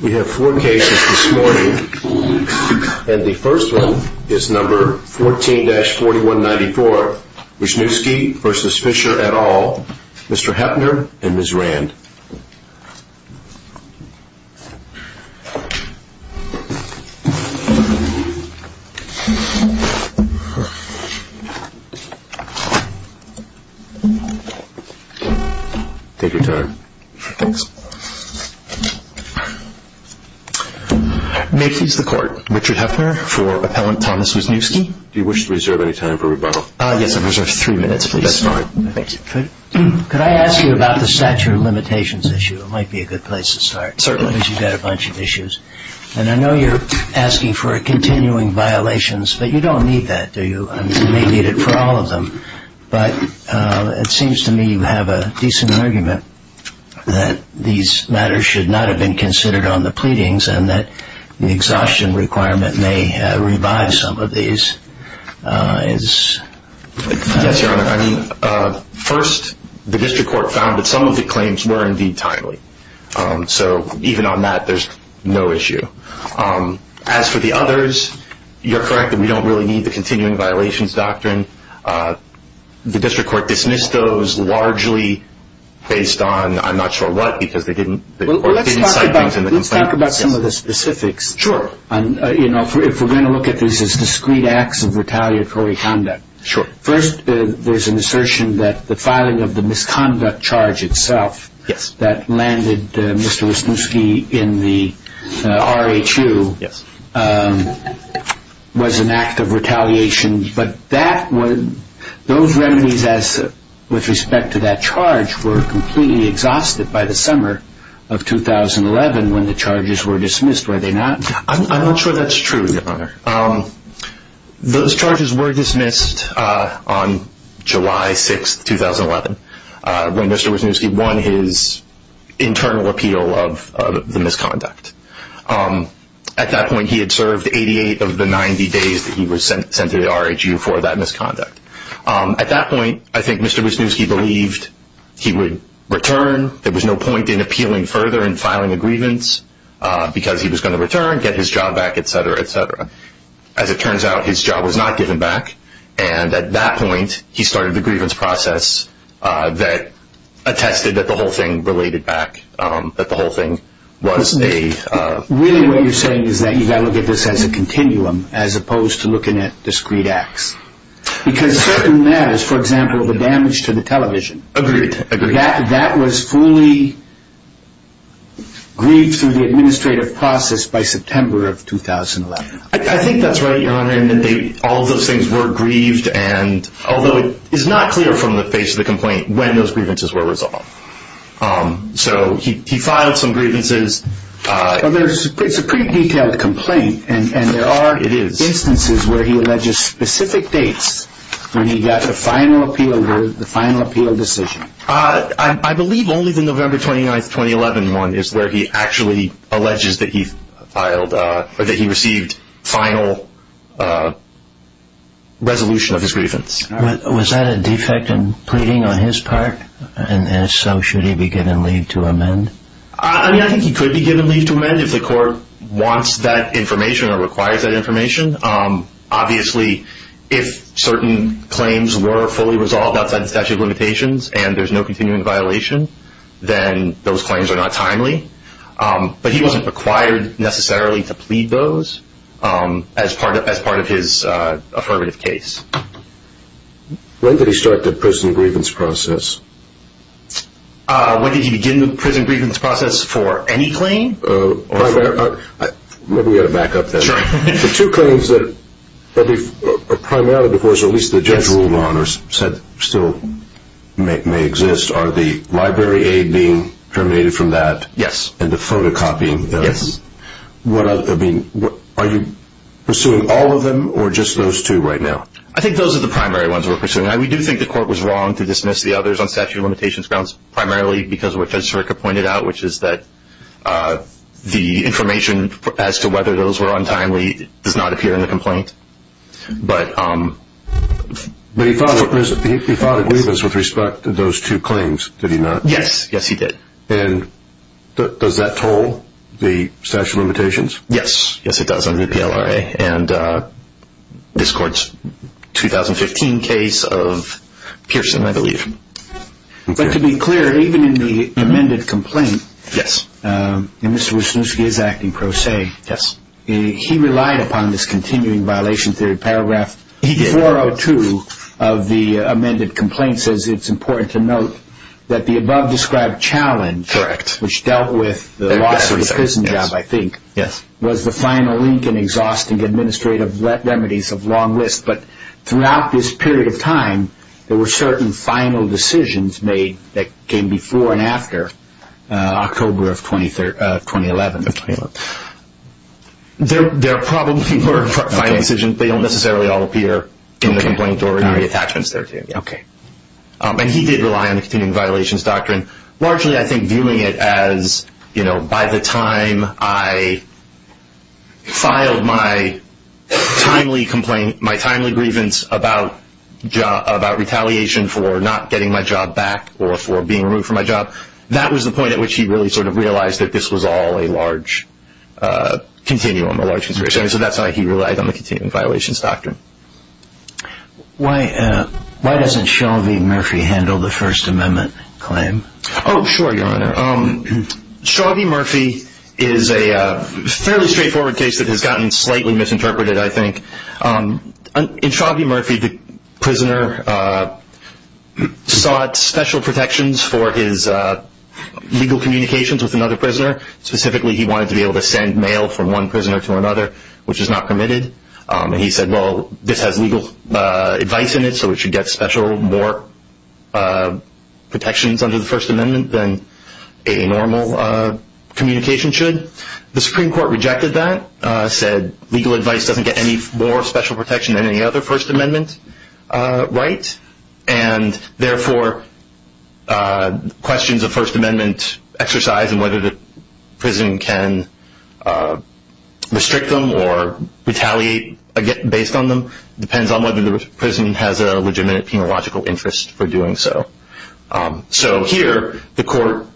We have four cases this morning and the first one is number 14-4194, Wysniewski v. Fisher et al., Mr. Heppner and Ms. Rand. May I please have the record? Richard Heppner for Appellant Thomas Wysniewski. Do you wish to reserve any time for rebuttal? Yes, I reserve three minutes, please. That's fine. Could I ask you about the stature of limitations issue? It might be a good place to start. Certainly. Because you've got a bunch of issues. And I know you're asking for continuing violations, but you don't need that, do you? You may need it for all of them. But it seems to me you have a decent argument that these matters should not have been considered on the pleadings and that the exhaustion requirement may revive some of these. Yes, Your Honor. First, the district court found that some of the claims were indeed timely. So even on that, there's no issue. As for the others, you're correct that we don't really need the continuing violations doctrine. The district court dismissed those largely based on I'm not sure what because the court didn't cite things in the complaint. Let's talk about some of the specifics. Sure. You know, if we're going to look at this as discrete acts of retaliatory conduct. Sure. First, there's an assertion that the filing of the misconduct charge itself that landed Mr. Wisniewski in the RHU was an act of retaliation. But those remedies with respect to that charge were completely exhausted by the summer of 2011 when the charges were dismissed, were they not? I'm not sure that's true, Your Honor. Those charges were dismissed on July 6, 2011, when Mr. Wisniewski won his internal appeal of the misconduct. At that point, he had served 88 of the 90 days that he was sent to the RHU for that misconduct. At that point, I think Mr. Wisniewski believed he would return. There was no point in appealing further and filing a grievance because he was going to return, get his job back, et cetera, et cetera. As it turns out, his job was not given back. And at that point, he started the grievance process that attested that the whole thing related back, that the whole thing was a Really what you're saying is that you've got to look at this as a continuum as opposed to looking at discrete acts. Because certain matters, for example, the damage to the television. Agreed. That was fully grieved through the administrative process by September of 2011. I think that's right, Your Honor. And all of those things were grieved. And although it is not clear from the face of the complaint when those grievances were resolved. So he filed some grievances. It's a pretty detailed complaint. And there are instances where he alleges specific dates when he got the final appeal, the final appeal decision. I believe only the November 29th, 2011 one is where he actually alleges that he filed or that he received final resolution of his grievance. Was that a defect in pleading on his part? And so should he be given leave to amend? I mean, I think he could be given leave to amend if the court wants that information or requires that information. Obviously, if certain claims were fully resolved outside the statute of limitations and there's no continuing violation, then those claims are not timely. But he wasn't required necessarily to plead those as part of his affirmative case. When did he start the prison grievance process? When did he begin the prison grievance process for any claim? Maybe we ought to back up that. Sure. The two claims that are primarily divorce, or at least the judge ruled on or said still may exist, are the library aid being terminated from that? Yes. And the photocopying. Yes. Are you pursuing all of them or just those two right now? I think those are the primary ones we're pursuing. We do think the court was wrong to dismiss the others on statute of limitations grounds, primarily because of what Judge Sirica pointed out, which is that the information as to whether those were untimely does not appear in the complaint. But he filed a grievance with respect to those two claims, did he not? Yes. Yes, he did. And does that toll the statute of limitations? Yes. Yes, it does under the PLRA. And this court's 2015 case of Pearson, I believe. But to be clear, even in the amended complaint, Mr. Wisniewski is acting pro se. Yes. He relied upon this continuing violation theory paragraph 402 of the amended complaint, says it's important to note that the above described challenge, which dealt with the loss of the prison job, I think, was the final link in exhausting administrative remedies of long list. But throughout this period of time, there were certain final decisions made that came before and after October of 2011. There probably were final decisions. They don't necessarily all appear in the complaint or in the attachments there. Okay. And he did rely on the continuing violations doctrine, largely, I think, by the time I filed my timely grievance about retaliation for not getting my job back or for being removed from my job. That was the point at which he really sort of realized that this was all a large continuum, a large consideration. So that's how he relied on the continuing violations doctrine. Why doesn't Shelby Murphy handle the First Amendment claim? Oh, sure, Your Honor. Shelby Murphy is a fairly straightforward case that has gotten slightly misinterpreted, I think. In Shelby Murphy, the prisoner sought special protections for his legal communications with another prisoner. Specifically, he wanted to be able to send mail from one prisoner to another, which is not permitted. And he said, well, this has legal advice in it, so we should get special more protections under the First Amendment than a normal communication should. The Supreme Court rejected that, said legal advice doesn't get any more special protection than any other First Amendment right, and therefore questions of First Amendment exercise and whether the prison can restrict them or retaliate based on them depends on whether the prison has a legitimate penological interest for doing so. So here, the court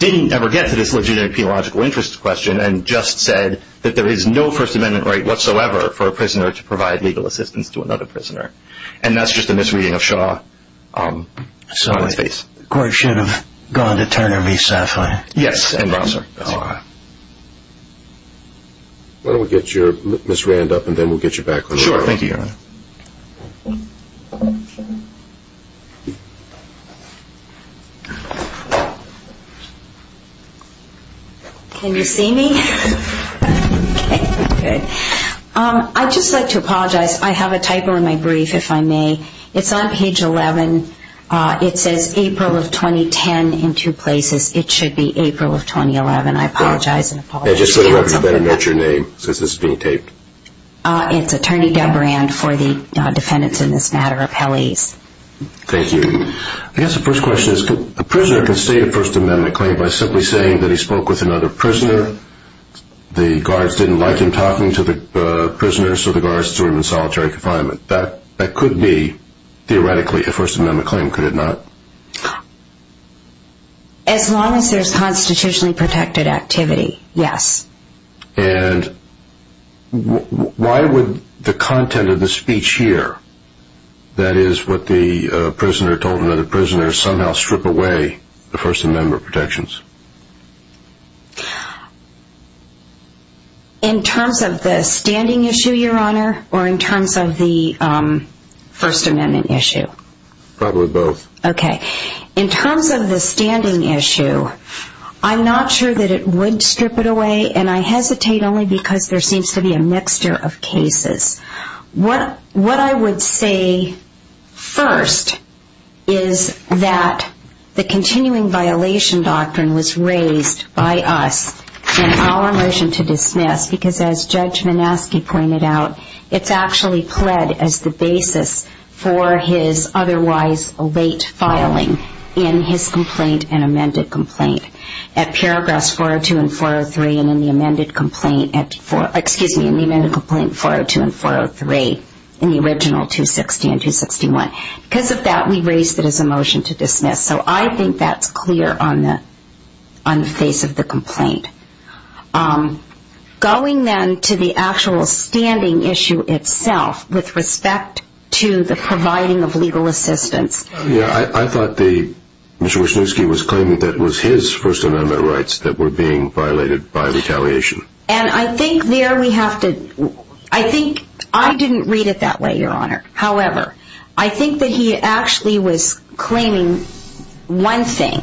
didn't ever get to this legitimate penological interest question and just said that there is no First Amendment right whatsoever for a prisoner to provide legal assistance to another prisoner. And that's just a misreading of Shaw. So the court should have gone to Turner v. Safran. Yes. Why don't we get Ms. Rand up and then we'll get you back. Sure. Thank you, Your Honor. Can you see me? Okay, good. I'd just like to apologize. I have a typo in my brief, if I may. It's on page 11. It says April of 2010 in two places. It should be April of 2011. I apologize. Just so you know, you better note your name since this is being taped. It's Attorney Deborah Rand for the defendants in this matter, appellees. Thank you. I guess the first question is, the prisoner can state a First Amendment claim by simply saying that he spoke with another prisoner, the guards didn't like him talking to the prisoner, so the guards threw him in solitary confinement. That could be, theoretically, a First Amendment claim, could it not? As long as there's constitutionally protected activity, yes. And why would the content of the speech here, that is what the prisoner told another prisoner, somehow strip away the First Amendment protections? In terms of the standing issue, Your Honor, or in terms of the First Amendment issue? Probably both. Okay. In terms of the standing issue, I'm not sure that it would strip it away, and I hesitate only because there seems to be a mixture of cases. What I would say first is that the continuing violation doctrine was raised by us in our motion to dismiss, because as Judge Manaske pointed out, it's actually pled as the basis for his otherwise late filing in his complaint and amended complaint. At paragraphs 402 and 403, and in the amended complaint 402 and 403, in the original 260 and 261. Because of that, we raised it as a motion to dismiss. So I think that's clear on the face of the complaint. Going then to the actual standing issue itself with respect to the providing of legal assistance. I thought that Mr. Wisniewski was claiming that it was his First Amendment rights that were being violated by retaliation. And I think there we have to, I think, I didn't read it that way, Your Honor. However, I think that he actually was claiming one thing.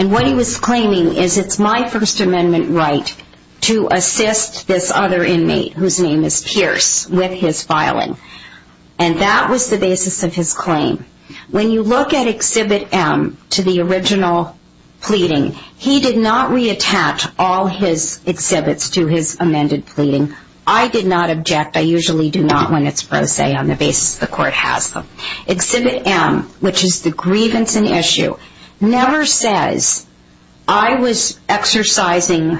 And what he was claiming is it's my First Amendment right to assist this other inmate, whose name is Pierce, with his filing. And that was the basis of his claim. When you look at Exhibit M to the original pleading, he did not reattach all his exhibits to his amended pleading. I did not object. I usually do not when it's pro se on the basis the court has them. Exhibit M, which is the grievance in issue, never says, I was exercising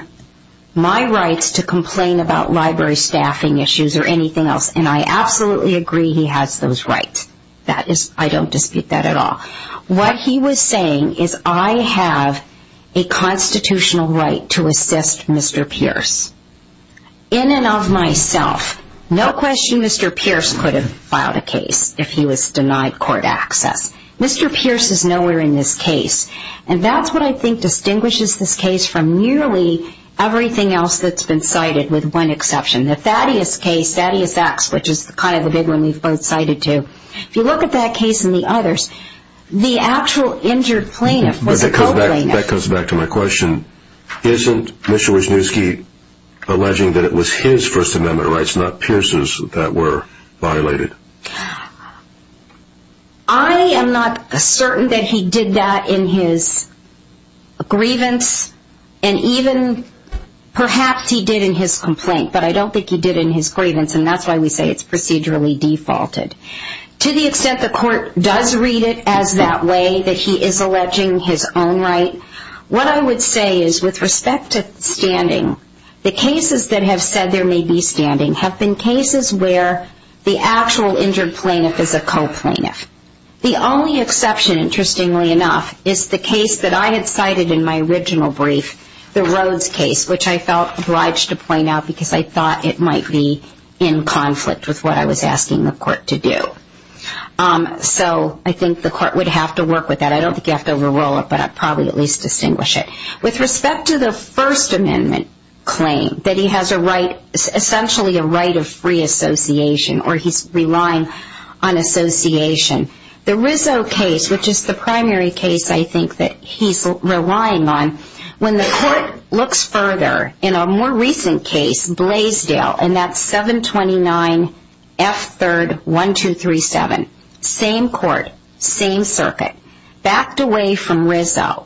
my rights to complain about library staffing issues or anything else. And I absolutely agree he has those rights. I don't dispute that at all. What he was saying is I have a constitutional right to assist Mr. Pierce in and of myself. No question Mr. Pierce could have filed a case if he was denied court access. Mr. Pierce is nowhere in this case. And that's what I think distinguishes this case from nearly everything else that's been cited with one exception. The Thaddeus case, Thaddeus X, which is kind of the big one we've both cited too. If you look at that case and the others, the actual injured plaintiff was a co-plaintiff. That comes back to my question. Isn't Mr. Wisniewski alleging that it was his First Amendment rights, not Pierce's, that were violated? I am not certain that he did that in his grievance. And even perhaps he did in his complaint, but I don't think he did in his grievance. And that's why we say it's procedurally defaulted. To the extent the court does read it as that way, that he is alleging his own right, what I would say is with respect to standing, the cases that have said there may be standing have been cases where the actual injured plaintiff is a co-plaintiff. The only exception, interestingly enough, is the case that I had cited in my original brief, the Rhodes case, which I felt obliged to point out because I thought it might be in conflict with what I was asking the court to do. So I think the court would have to work with that. I don't think you have to overrule it, but I'd probably at least distinguish it. With respect to the First Amendment claim that he has essentially a right of free association or he's relying on association, the Rizzo case, which is the primary case I think that he's relying on, when the court looks further, in a more recent case, Blaisdell, and that's 729F3-1237, same court, same circuit, backed away from Rizzo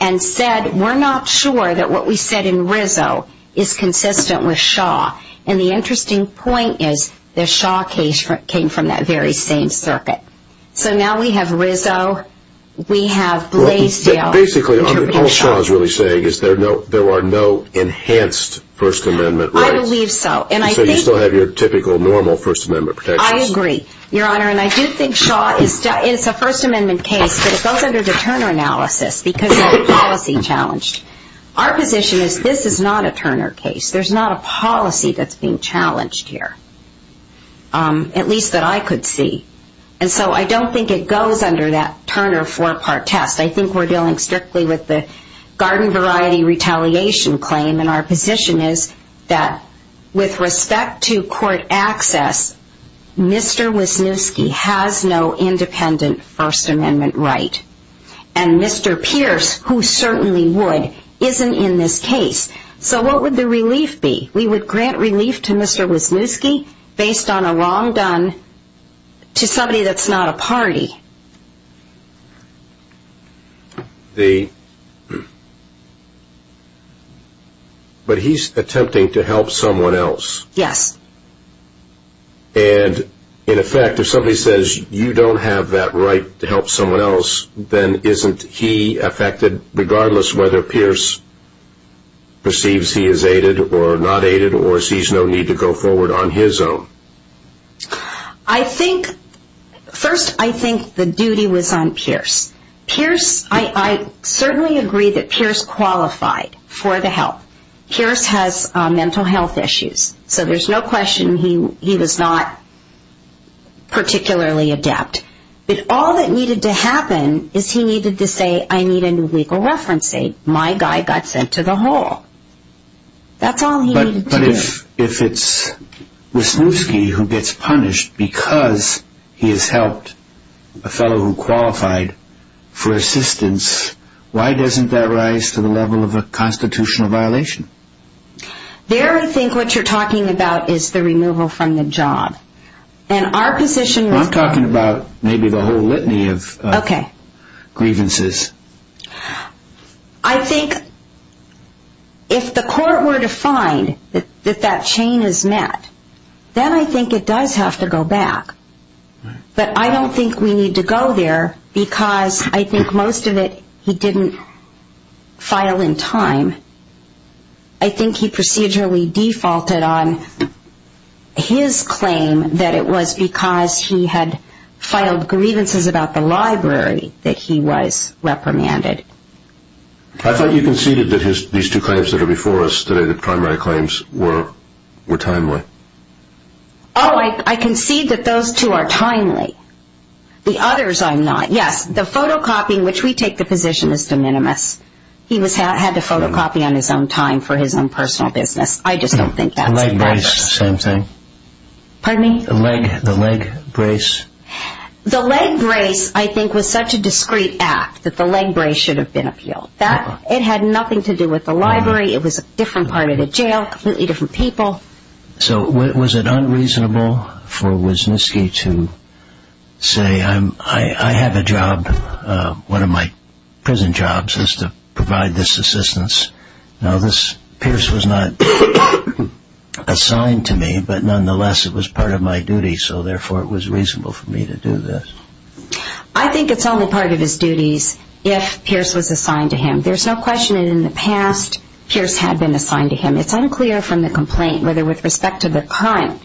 and said, we're not sure that what we said in Rizzo is consistent with Shaw. And the interesting point is the Shaw case came from that very same circuit. So now we have Rizzo, we have Blaisdell. Basically, all Shaw is really saying is there are no enhanced First Amendment rights. I believe so. So you still have your typical, normal First Amendment protections. I agree, Your Honor, and I do think Shaw is a First Amendment case, but it goes under the Turner analysis because they're policy-challenged. Our position is this is not a Turner case. There's not a policy that's being challenged here, at least that I could see. And so I don't think it goes under that Turner four-part test. I think we're dealing strictly with the garden variety retaliation claim, and our position is that with respect to court access, Mr. Wisniewski has no independent First Amendment right. And Mr. Pierce, who certainly would, isn't in this case. So what would the relief be? We would grant relief to Mr. Wisniewski based on a wrong done to somebody that's not a party. But he's attempting to help someone else. Yes. And, in effect, if somebody says you don't have that right to help someone else, then isn't he affected regardless whether Pierce perceives he is aided or not aided or sees no need to go forward on his own? I think, first, I think the duty was on Pierce. Pierce, I certainly agree that Pierce qualified for the help. Pierce has mental health issues. So there's no question he was not particularly adept. But all that needed to happen is he needed to say, I need a new legal reference aid. My guy got sent to the hole. That's all he needed to do. But if it's Wisniewski who gets punished because he has helped a fellow who qualified for assistance, why doesn't that rise to the level of a constitutional violation? There, I think what you're talking about is the removal from the job. And our position was... Well, I'm talking about maybe the whole litany of grievances. Okay. I think if the court were to find that that chain is met, then I think it does have to go back. But I don't think we need to go there because I think most of it he didn't file in time. I think he procedurally defaulted on his claim that it was because he had filed grievances about the library that he was reprimanded. I thought you conceded that these two claims that are before us today, the primary claims, were timely. Oh, I conceded that those two are timely. The others I'm not. Yes, the photocopying, which we take the position as de minimis. He had to photocopy on his own time for his own personal business. I just don't think that's the case. The leg brace, same thing. Pardon me? The leg brace. The leg brace, I think, was such a discreet act that the leg brace should have been appealed. It had nothing to do with the library. It was a different part of the jail, completely different people. So was it unreasonable for Wisniewski to say, I have a job, one of my prison jobs is to provide this assistance. Now this, Pierce was not assigned to me, but nonetheless it was part of my duty, so therefore it was reasonable for me to do this. I think it's only part of his duties if Pierce was assigned to him. There's no question that in the past Pierce had been assigned to him. It's unclear from the complaint whether with respect to the current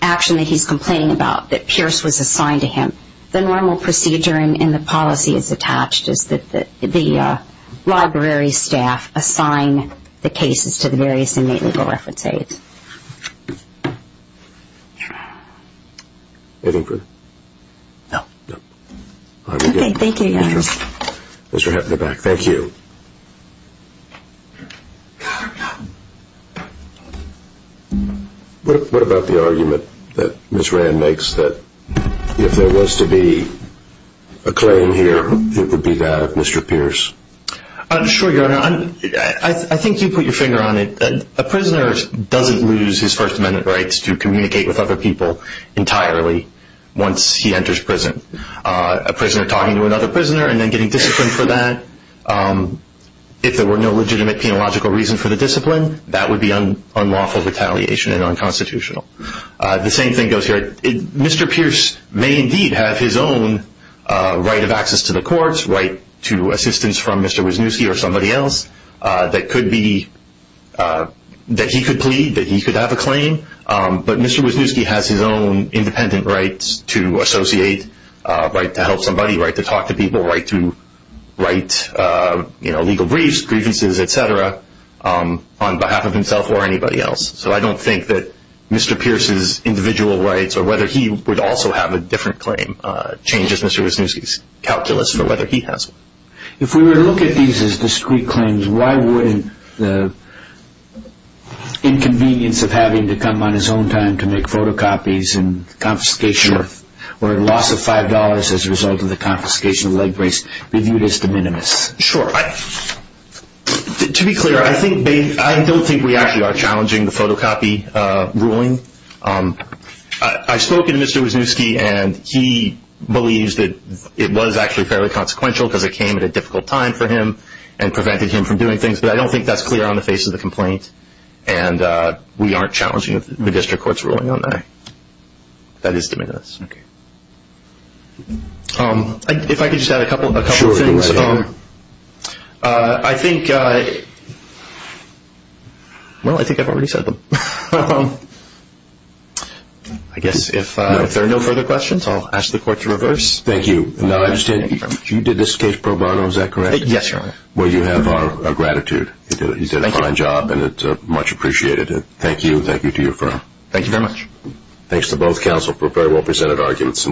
action that he's complaining about, that Pierce was assigned to him. The normal procedure in the policy as attached is that the library staff assign the cases to the various inmate legal reference aides. Anything further? No. Okay, thank you, Your Honor. Mr. Hepner back. Thank you. What about the argument that Ms. Rand makes that if there was to be a claim here, it would be that of Mr. Pierce? Sure, Your Honor. I think you put your finger on it. A prisoner doesn't lose his First Amendment rights to communicate with other people entirely once he enters prison. A prisoner talking to another prisoner and then getting disciplined for that, if there were no legitimate penological reason for the discipline, that would be unlawful retaliation and unconstitutional. The same thing goes here. Mr. Pierce may indeed have his own right of access to the courts, right to assistance from Mr. Wisniewski or somebody else that he could plead, that he could have a claim, but Mr. Wisniewski has his own independent rights to associate, right to help somebody, right to talk to people, right to write, you know, legal briefs, grievances, et cetera, on behalf of himself or anybody else. So I don't think that Mr. Pierce's individual rights or whether he would also have a different claim changes Mr. Wisniewski's calculus for whether he has one. If we were to look at these as discrete claims, why wouldn't the inconvenience of having to come on his own time to make photocopies and confiscation or loss of $5 as a result of the confiscation of leg brace be viewed as de minimis? Sure. To be clear, I don't think we actually are challenging the photocopy ruling. I spoke to Mr. Wisniewski and he believes that it was actually fairly consequential because it came at a difficult time for him and prevented him from doing things, but I don't think that's clear on the face of the complaint and we aren't challenging the district court's ruling on that. That is de minimis. Okay. If I could just add a couple of things. Sure, go right ahead. I think, well, I think I've already said them. I guess if there are no further questions, I'll ask the court to reverse. Thank you. Now, I understand you did this case pro bono, is that correct? Yes, Your Honor. Well, you have our gratitude. You did a fine job and it's much appreciated. Thank you and thank you to your firm. Thank you very much. Thanks to both counsel for very well presented arguments.